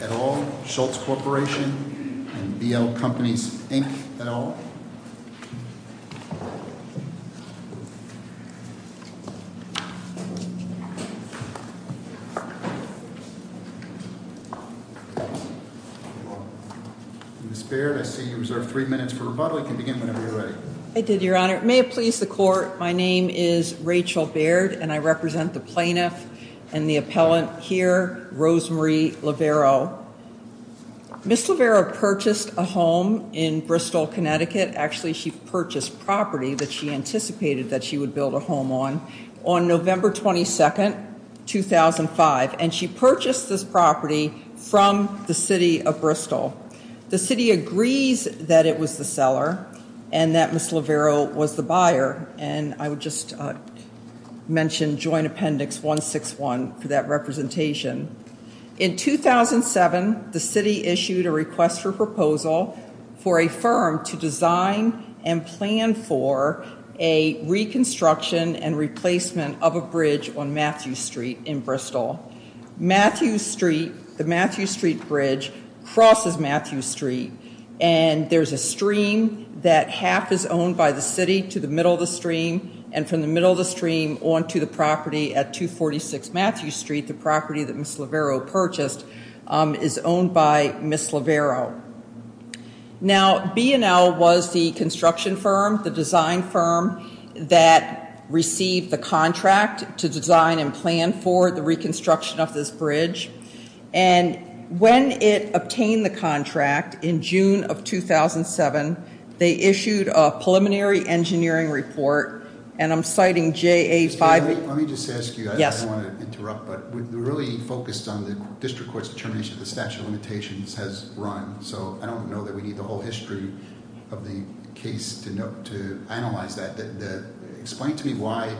et al., Schultz Corporation, and BL Companies, Inc. et al. Ms. Baird, I see you reserved three minutes for rebuttal. You can begin whenever you're ready. I did, Your Honor. May it please the Court, my name is Rachel Baird, and I represent the plaintiff and the appellant here, Rosemarie Levero. Ms. Levero purchased a home in Bristol, Connecticut. Actually, she purchased property that she anticipated that she would build a home on, on November 22, 2005. And she purchased this property from the city of Bristol. The city agrees that it was the seller and that Ms. Levero was the buyer. And I would just mention Joint Appendix 161 for that representation. In 2007, the city issued a request for proposal for a firm to design and plan for a reconstruction and replacement of a bridge on Matthew Street in Bristol. Matthew Street, the Matthew Street Bridge, crosses Matthew Street, and there's a stream that half is owned by the city to the middle of the stream, and from the middle of the stream on to the property at 246 Matthew Street, the property that Ms. Levero purchased, is owned by Ms. Levero. Now, B&L was the construction firm, the design firm, that received the contract to design and plan for the reconstruction of this bridge. And when it obtained the contract in June of 2007, they issued a preliminary engineering report, and I'm citing JA 5- Let me just ask you, I don't want to interrupt, but we're really focused on the district court's determination of the statute of limitations has run, so I don't know that we need the whole history of the case to analyze that. Explain to me why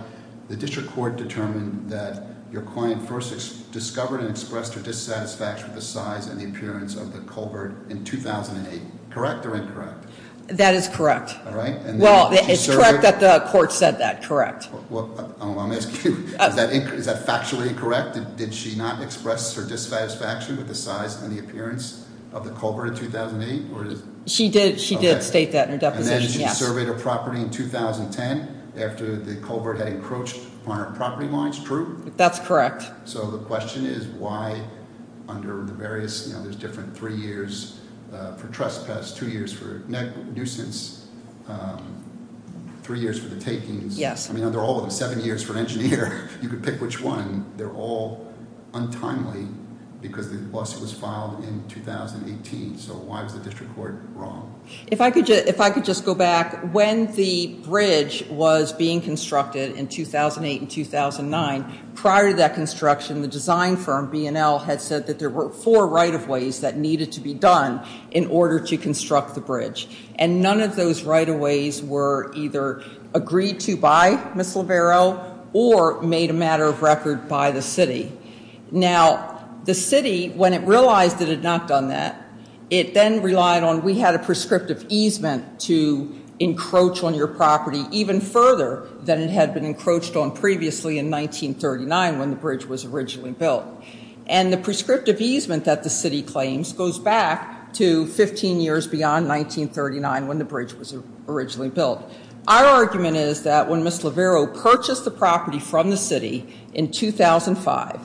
the district court determined that your client first discovered and expressed her dissatisfaction with the size and the appearance of the culvert in 2008, correct or incorrect? That is correct. All right. Well, it's correct that the court said that, correct. Well, let me ask you, is that factually correct? Did she not express her dissatisfaction with the size and the appearance of the culvert in 2008? She did state that in her deposition, yes. And then she surveyed her property in 2010 after the culvert had encroached on her property lines, true? That's correct. So the question is why under the various, you know, there's different three years for trespass, two years for nuisance, three years for the takings. Yes. I mean, they're all seven years for an engineer. You could pick which one. They're all untimely because the lawsuit was filed in 2018. So why was the district court wrong? If I could just go back, when the bridge was being constructed in 2008 and 2009, prior to that construction, the design firm, B&L, had said that there were four right-of-ways that needed to be done in order to construct the bridge, and none of those right-of-ways were either agreed to by Ms. Lavero or made a matter of record by the city. Now, the city, when it realized it had not done that, it then relied on, we had a prescriptive easement to encroach on your property even further than it had been encroached on previously in 1939, when the bridge was originally built. And the prescriptive easement that the city claims goes back to 15 years beyond 1939, when the bridge was originally built. Our argument is that when Ms. Lavero purchased the property from the city in 2005,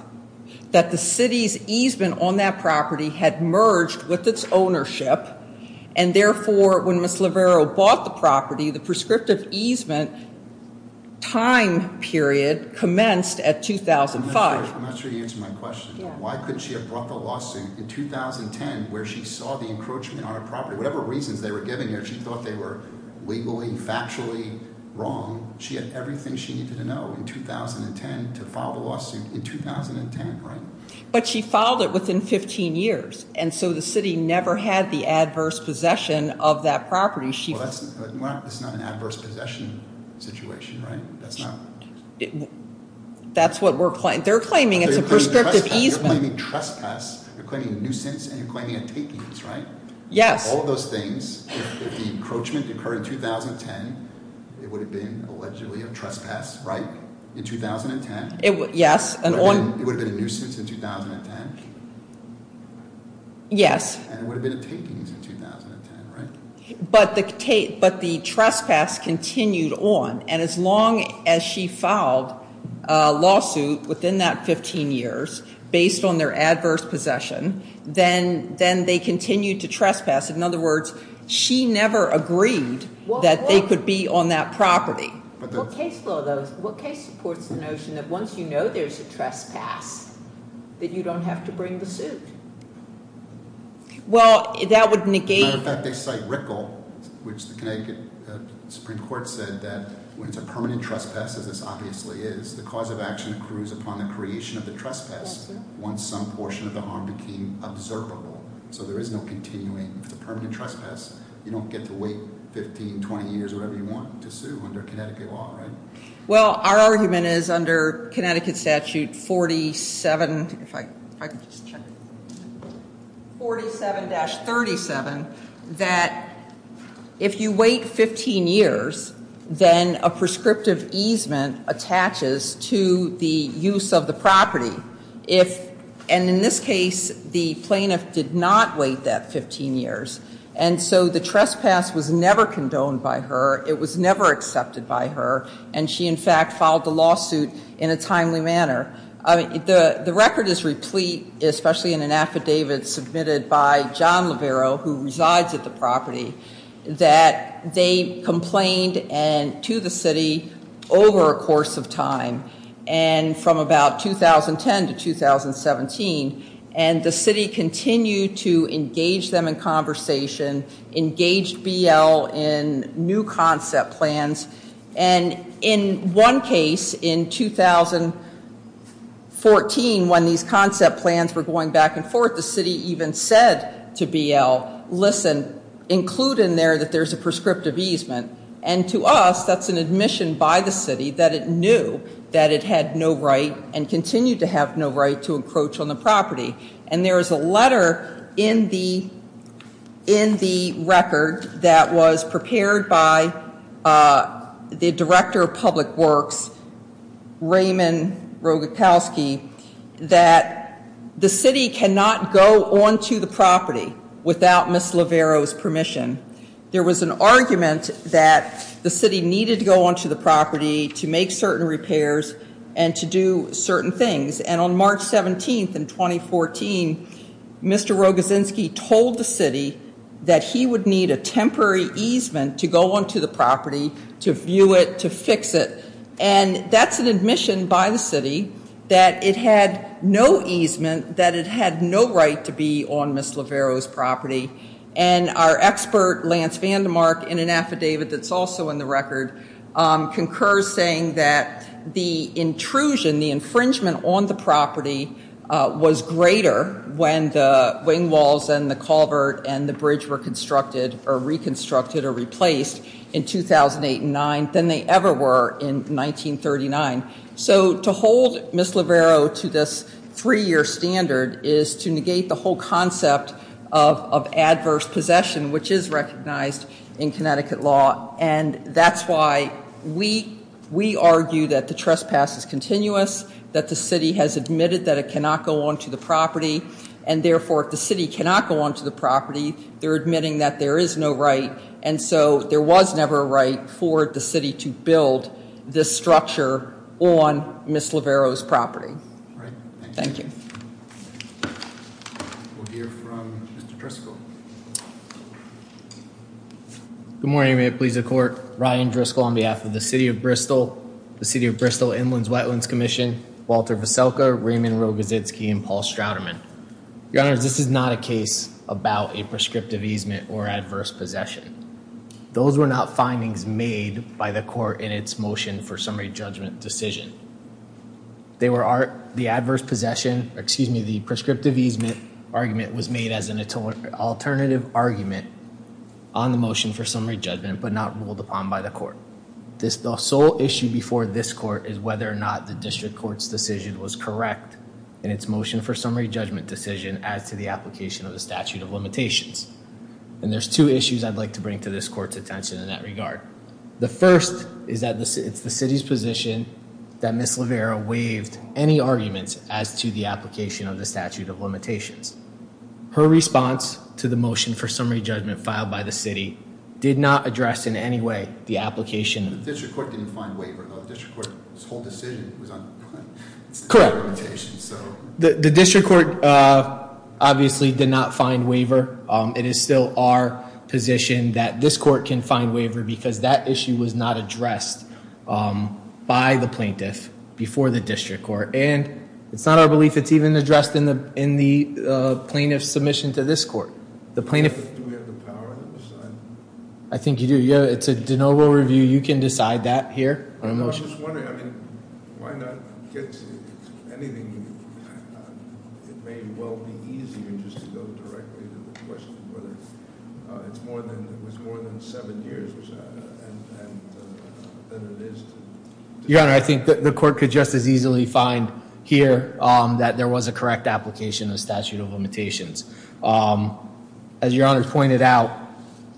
that the city's easement on that property had merged with its ownership, and therefore, when Ms. Lavero bought the property, the prescriptive easement time period commenced at 2005. I'm not sure you answered my question. Why couldn't she have brought the lawsuit in 2010 where she saw the encroachment on her property? Whatever reasons they were giving her, she thought they were legally, factually wrong. She had everything she needed to know in 2010 to file the lawsuit in 2010, right? But she filed it within 15 years, and so the city never had the adverse possession of that property. Well, that's not an adverse possession situation, right? That's not. They're claiming it's a prescriptive easement. You're claiming trespass, you're claiming nuisance, and you're claiming a takings, right? Yes. All of those things, if the encroachment occurred in 2010, it would have been allegedly a trespass, right, in 2010? Yes. It would have been a nuisance in 2010? Yes. And it would have been a takings in 2010, right? But the trespass continued on, and as long as she filed a lawsuit within that 15 years based on their adverse possession, then they continued to trespass. In other words, she never agreed that they could be on that property. What case supports the notion that once you know there's a trespass that you don't have to bring the suit? Well, that would negate- As a matter of fact, they cite Rickle, which the Connecticut Supreme Court said that when it's a permanent trespass, as this obviously is, the cause of action accrues upon the creation of the trespass once some portion of the harm became observable. So there is no continuing. If it's a permanent trespass, you don't get to wait 15, 20 years, whatever you want, to sue under Connecticut law, right? Well, our argument is under Connecticut Statute 47-37 that if you wait 15 years, then a prescriptive easement attaches to the use of the property. And in this case, the plaintiff did not wait that 15 years, and so the trespass was never condoned by her, it was never accepted by her, and she, in fact, filed the lawsuit in a timely manner. The record is replete, especially in an affidavit submitted by John Levero, who resides at the property, that they complained to the city over a course of time, and from about 2010 to 2017, and the city continued to engage them in conversation, engaged BL in new concept plans, and in one case in 2014, when these concept plans were going back and forth, the city even said to BL, listen, include in there that there's a prescriptive easement. And to us, that's an admission by the city that it knew that it had no right and continued to have no right to encroach on the property. And there is a letter in the record that was prepared by the Director of Public Works, Raymond Rogatowski, that the city cannot go onto the property without Ms. Levero's permission. There was an argument that the city needed to go onto the property to make certain repairs and to do certain things. And on March 17th in 2014, Mr. Rogatowski told the city that he would need a temporary easement to go onto the property to view it, to fix it. And that's an admission by the city that it had no easement, that it had no right to be on Ms. Levero's property. And our expert, Lance Vandermark, in an affidavit that's also in the record, concurs saying that the intrusion, the infringement on the property was greater when the wing walls and the culvert and the bridge were constructed or reconstructed or replaced in 2008 and 2009 than they ever were in 1939. So to hold Ms. Levero to this three-year standard is to negate the whole concept of adverse possession, which is recognized in Connecticut law. And that's why we argue that the trespass is continuous, that the city has admitted that it cannot go onto the property. And therefore, if the city cannot go onto the property, they're admitting that there is no right. And so there was never a right for the city to build this structure on Ms. Levero's property. Thank you. We'll hear from Mr. Driscoll. Good morning. May it please the Court. Ryan Driscoll on behalf of the City of Bristol, the City of Bristol Inlands Wetlands Commission, Walter Veselka, Raymond Rogozitski, and Paul Strouderman. Your Honor, this is not a case about a prescriptive easement or adverse possession. Those were not findings made by the court in its motion for summary judgment decision. The adverse possession, excuse me, the prescriptive easement argument was made as an alternative argument on the motion for summary judgment but not ruled upon by the court. The sole issue before this court is whether or not the district court's decision was correct in its motion for summary judgment decision as to the application of the statute of limitations. And there's two issues I'd like to bring to this court's attention in that regard. The first is that it's the city's position that Ms. Levero waived any arguments as to the application of the statute of limitations. Her response to the motion for summary judgment filed by the city did not address in any way the application. The district court didn't find waiver though. The district court's whole decision was on the statute of limitations. Correct. The district court obviously did not find waiver. It is still our position that this court can find waiver because that issue was not addressed by the plaintiff before the district court. And it's not our belief it's even addressed in the plaintiff's submission to this court. Do we have the power to decide? I think you do. It's a de novo review. You can decide that here on a motion. I was just wondering, I mean, why not get to anything? It may well be easier just to go directly to the question whether it was more than seven years than it is today. Your Honor, I think the court could just as easily find here that there was a correct application of statute of limitations. As Your Honor pointed out,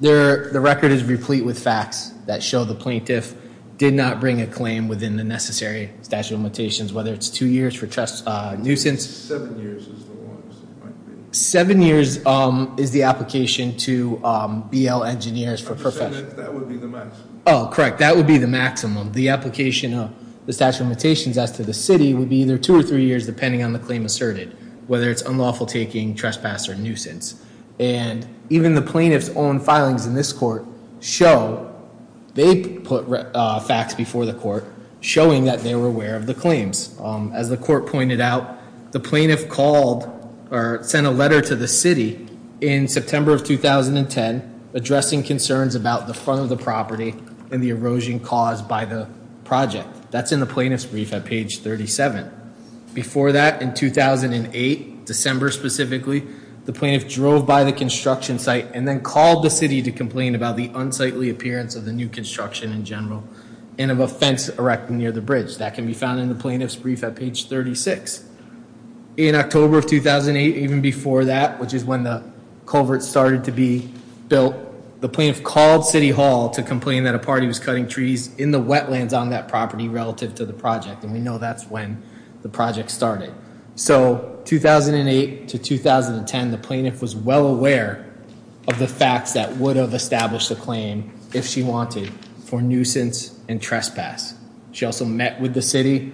the record is replete with facts that show the plaintiff did not bring a claim within the necessary statute of limitations, whether it's two years for trust nuisance. Seven years is the longest it might be. Seven years is the application to BL engineers for professional. I'm just saying that would be the maximum. Oh, correct. That would be the maximum. The application of the statute of limitations as to the city would be either two or three years, depending on the claim asserted, whether it's unlawful taking trespass or nuisance. And even the plaintiff's own filings in this court show they put facts before the court showing that they were aware of the claims. As the court pointed out, the plaintiff called or sent a letter to the city in September of 2010 addressing concerns about the front of the property and the erosion caused by the project. That's in the plaintiff's brief at page 37. Before that, in 2008, December specifically, the plaintiff drove by the construction site and then called the city to complain about the unsightly appearance of the new construction in general and of a fence erected near the bridge. That can be found in the plaintiff's brief at page 36. In October of 2008, even before that, which is when the culvert started to be built, the plaintiff called City Hall to complain that a party was cutting trees in the wetlands on that property relative to the project. And we know that's when the project started. So 2008 to 2010, the plaintiff was well aware of the facts that would have established a claim if she wanted for nuisance and trespass. She also met with the city.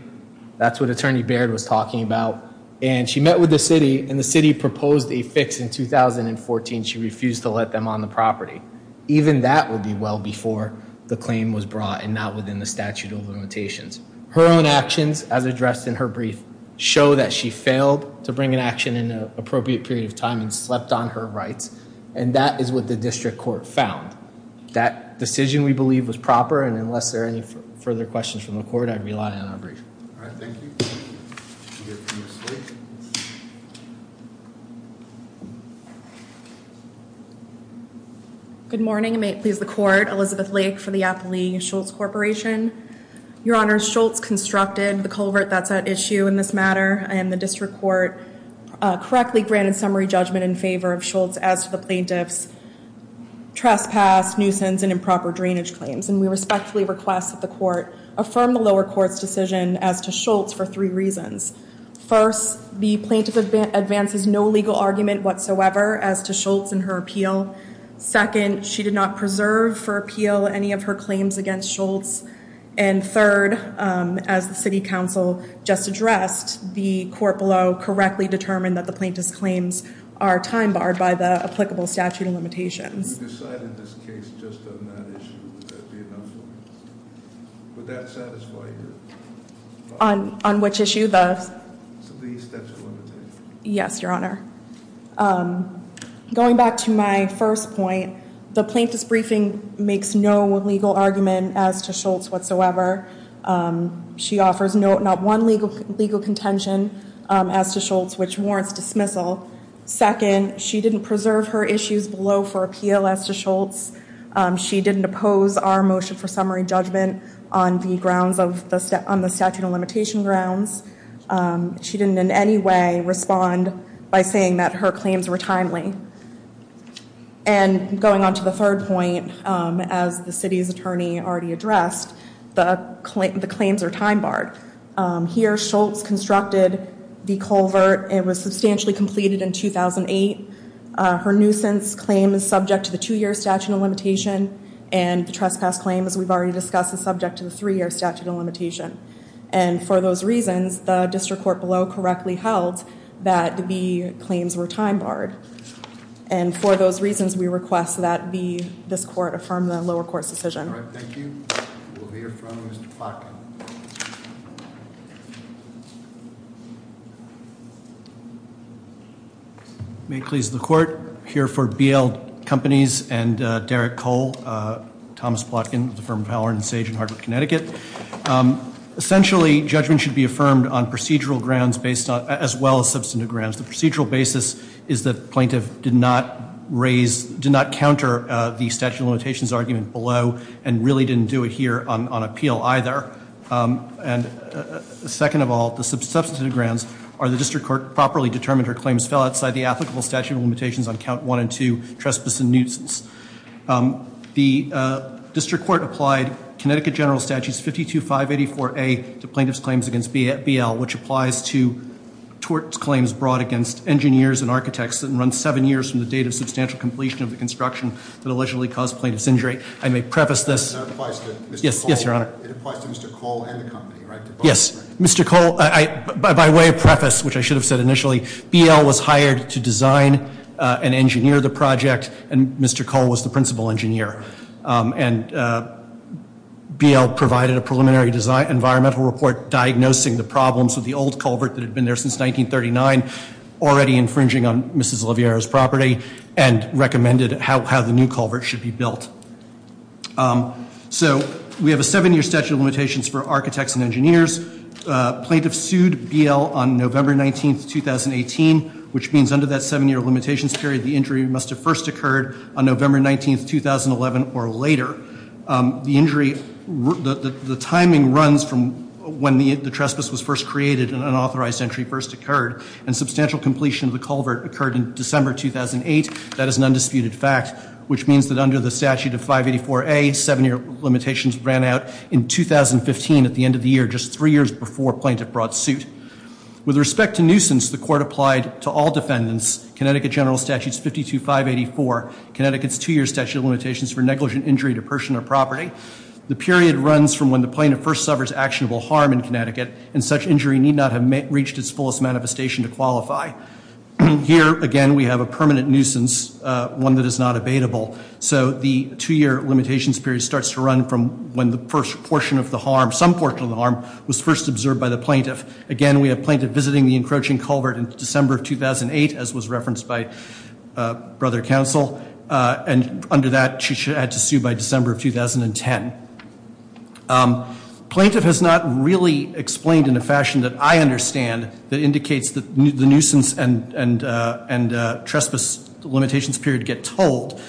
That's what Attorney Baird was talking about. And she met with the city, and the city proposed a fix in 2014. She refused to let them on the property. Even that would be well before the claim was brought and not within the statute of limitations. Her own actions, as addressed in her brief, show that she failed to bring an action in an appropriate period of time and slept on her rights. And that is what the district court found. That decision, we believe, was proper. And unless there are any further questions from the court, I'd rely on our brief. All right, thank you. You can go to your seat. Good morning. I may please the court. Elizabeth Lake for the Appalachian Schultz Corporation. Your Honor, Schultz constructed the culvert that's at issue in this matter. I am the district court. Correctly granted summary judgment in favor of Schultz as to the plaintiff's trespass, nuisance, and improper drainage claims. And we respectfully request that the court affirm the lower court's decision as to Schultz for three reasons. First, the plaintiff advances no legal argument whatsoever as to Schultz and her appeal. Second, she did not preserve for appeal any of her claims against Schultz. And third, as the city council just addressed, the court below correctly determined that the plaintiff's claims are time barred by the applicable statute of limitations. You decided this case just on that issue. Would that be enough for you? Would that satisfy your... On which issue? The statute of limitations. Yes, Your Honor. Going back to my first point, the plaintiff's briefing makes no legal argument as to Schultz whatsoever. She offers not one legal contention as to Schultz, which warrants dismissal. Second, she didn't preserve her issues below for appeal as to Schultz. She didn't oppose our motion for summary judgment on the statute of limitation grounds. She didn't in any way respond by saying that her claims were timely. And going on to the third point, as the city's attorney already addressed, the claims are time barred. Here, Schultz constructed the culvert. It was substantially completed in 2008. Her nuisance claim is subject to the two-year statute of limitation, and the trespass claim, as we've already discussed, is subject to the three-year statute of limitation. And for those reasons, the district court below correctly held that the claims were time barred. And for those reasons, we request that this court affirm the lower court's decision. All right. Thank you. We'll hear from Mr. Plotkin. May it please the Court. I'm here for BL Companies and Derek Cole, Thomas Plotkin, the firm of Halloran and Sage in Hartford, Connecticut. Essentially, judgment should be affirmed on procedural grounds as well as substantive grounds. The procedural basis is that plaintiff did not raise, did not counter the statute of limitations argument below and really didn't do it here on appeal either. And second of all, the substantive grounds are the district court properly determined her claims fell outside the applicable statute of limitations on count one and two, trespass and nuisance. The district court applied Connecticut General Statutes 52584A to plaintiff's claims against BL, which applies to tort claims brought against engineers and architects that run seven years from the date of substantial completion of the construction that allegedly caused plaintiff's injury. I may preface this. That applies to Mr. Cole? Yes, Your Honor. It applies to Mr. Cole and the company, right? Yes. Mr. Cole, by way of preface, which I should have said initially, BL was hired to design and engineer the project, and Mr. Cole was the principal engineer. And BL provided a preliminary environmental report diagnosing the problems with the old culvert that had been there since 1939, already infringing on Mrs. Oliveira's property, and recommended how the new culvert should be built. So we have a seven-year statute of limitations for architects and engineers. Plaintiff sued BL on November 19, 2018, which means under that seven-year limitations period, the injury must have first occurred on November 19, 2011 or later. The injury, the timing runs from when the trespass was first created and an authorized entry first occurred. And substantial completion of the culvert occurred in December 2008. That is an undisputed fact, which means that under the statute of 584A, seven-year limitations ran out in 2015 at the end of the year, just three years before plaintiff brought suit. With respect to nuisance, the court applied to all defendants, Connecticut General Statute 52584, Connecticut's two-year statute of limitations for negligent injury to person or property. The period runs from when the plaintiff first suffers actionable harm in Connecticut, and such injury need not have reached its fullest manifestation to qualify. Here, again, we have a permanent nuisance, one that is not abatable. So the two-year limitations period starts to run from when the first portion of the harm, some portion of the harm was first observed by the plaintiff. Again, we have plaintiff visiting the encroaching culvert in December of 2008, as was referenced by Brother Counsel. And under that, she had to sue by December of 2010. Plaintiff has not really explained in a fashion that I understand that indicates that the nuisance and trespass limitations period get told.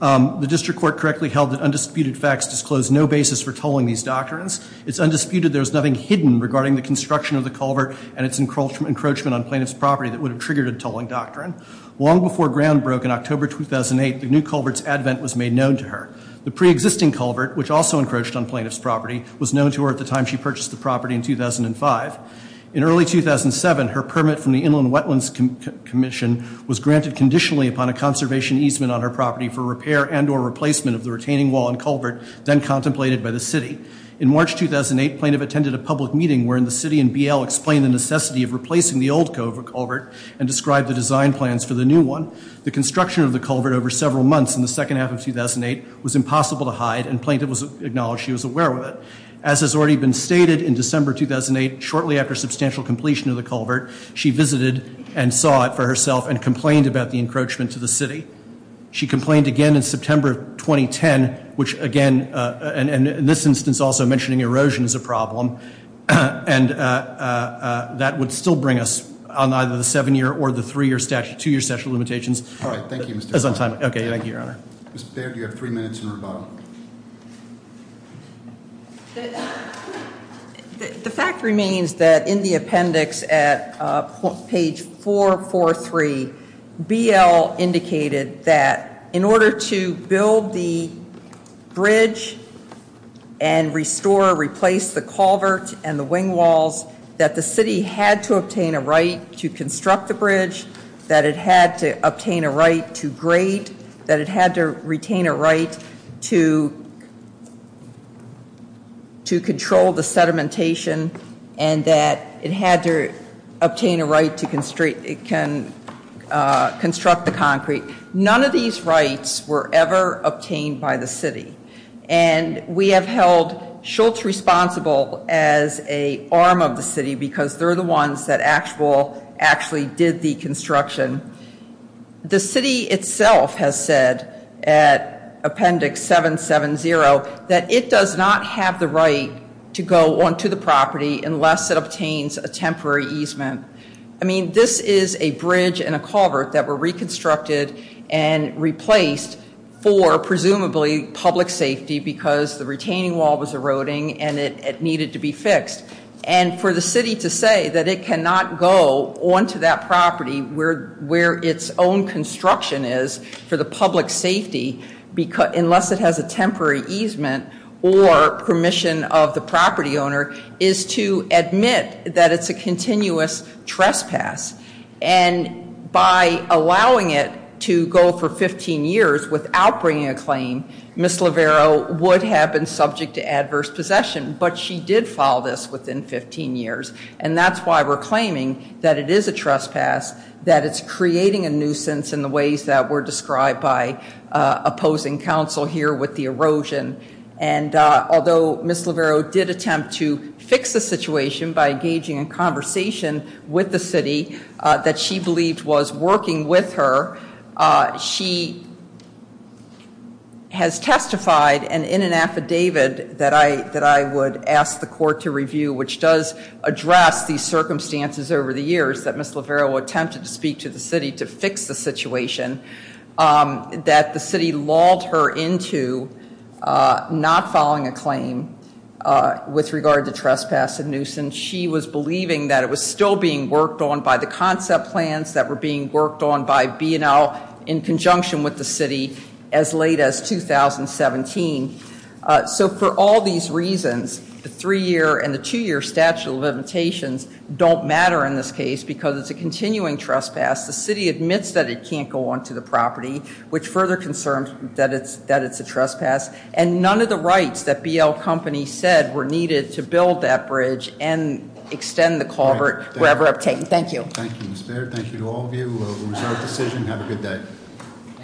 The district court correctly held that undisputed facts disclose no basis for tolling these doctrines. It's undisputed there's nothing hidden regarding the construction of the culvert and its encroachment on plaintiff's property that would have triggered a tolling doctrine. Long before ground broke in October 2008, the new culvert's advent was made known to her. The preexisting culvert, which also encroached on plaintiff's property, was known to her at the time she purchased the property in 2005. In early 2007, her permit from the Inland Wetlands Commission was granted conditionally upon a conservation easement on her property for repair and or replacement of the retaining wall and culvert then contemplated by the city. In March 2008, plaintiff attended a public meeting wherein the city and BL explained the necessity of replacing the old culvert and described the design plans for the new one. The construction of the culvert over several months in the second half of 2008 was impossible to hide and plaintiff acknowledged she was aware of it. As has already been stated, in December 2008, shortly after substantial completion of the culvert, she visited and saw it for herself and complained about the encroachment to the city. She complained again in September of 2010, which again, and in this instance also mentioning erosion as a problem, and that would still bring us on either the seven-year or the three-year statute, two-year statute of limitations. All right, thank you, Mr. Kline. That's on time. Okay, thank you, Your Honor. Ms. Baird, you have three minutes in rebuttal. The fact remains that in the appendix at page 443, BL indicated that in order to build the bridge and restore or replace the culvert and the wing walls, that the city had to obtain a right to construct the bridge, that it had to obtain a right to grade, that it had to retain a right to control the sedimentation, and that it had to obtain a right to construct the concrete. None of these rights were ever obtained by the city. And we have held Schultz responsible as an arm of the city because they're the ones that actually did the construction. The city itself has said at appendix 770 that it does not have the right to go onto the property unless it obtains a temporary easement. I mean, this is a bridge and a culvert that were reconstructed and replaced for presumably public safety because the retaining wall was eroding and it needed to be fixed. And for the city to say that it cannot go onto that property where its own construction is for the public safety unless it has a temporary easement or permission of the property owner is to admit that it's a continuous trespass. And by allowing it to go for 15 years without bringing a claim, Ms. Lavero would have been subject to adverse possession, but she did file this within 15 years. And that's why we're claiming that it is a trespass, that it's creating a nuisance in the ways that were described by opposing counsel here with the erosion. And although Ms. Lavero did attempt to fix the situation by engaging in conversation with the city that she believed was working with her, she has testified in an affidavit that I would ask the court to review, which does address these circumstances over the years that Ms. Lavero attempted to speak to the city to fix the situation that the city lulled her into not following a claim with regard to trespass and nuisance. She was believing that it was still being worked on by the concept plans that were being worked on by B&L in conjunction with the city as late as 2017. So for all these reasons, the three-year and the two-year statute of limitations don't matter in this case because it's a continuing trespass. The city admits that it can't go onto the property, which further concerns that it's a trespass. And none of the rights that B&L Company said were needed to build that bridge and extend the culvert were ever obtained. Thank you. Thank you, Ms. Baird. Thank you to all of you. It was our decision. Have a good day.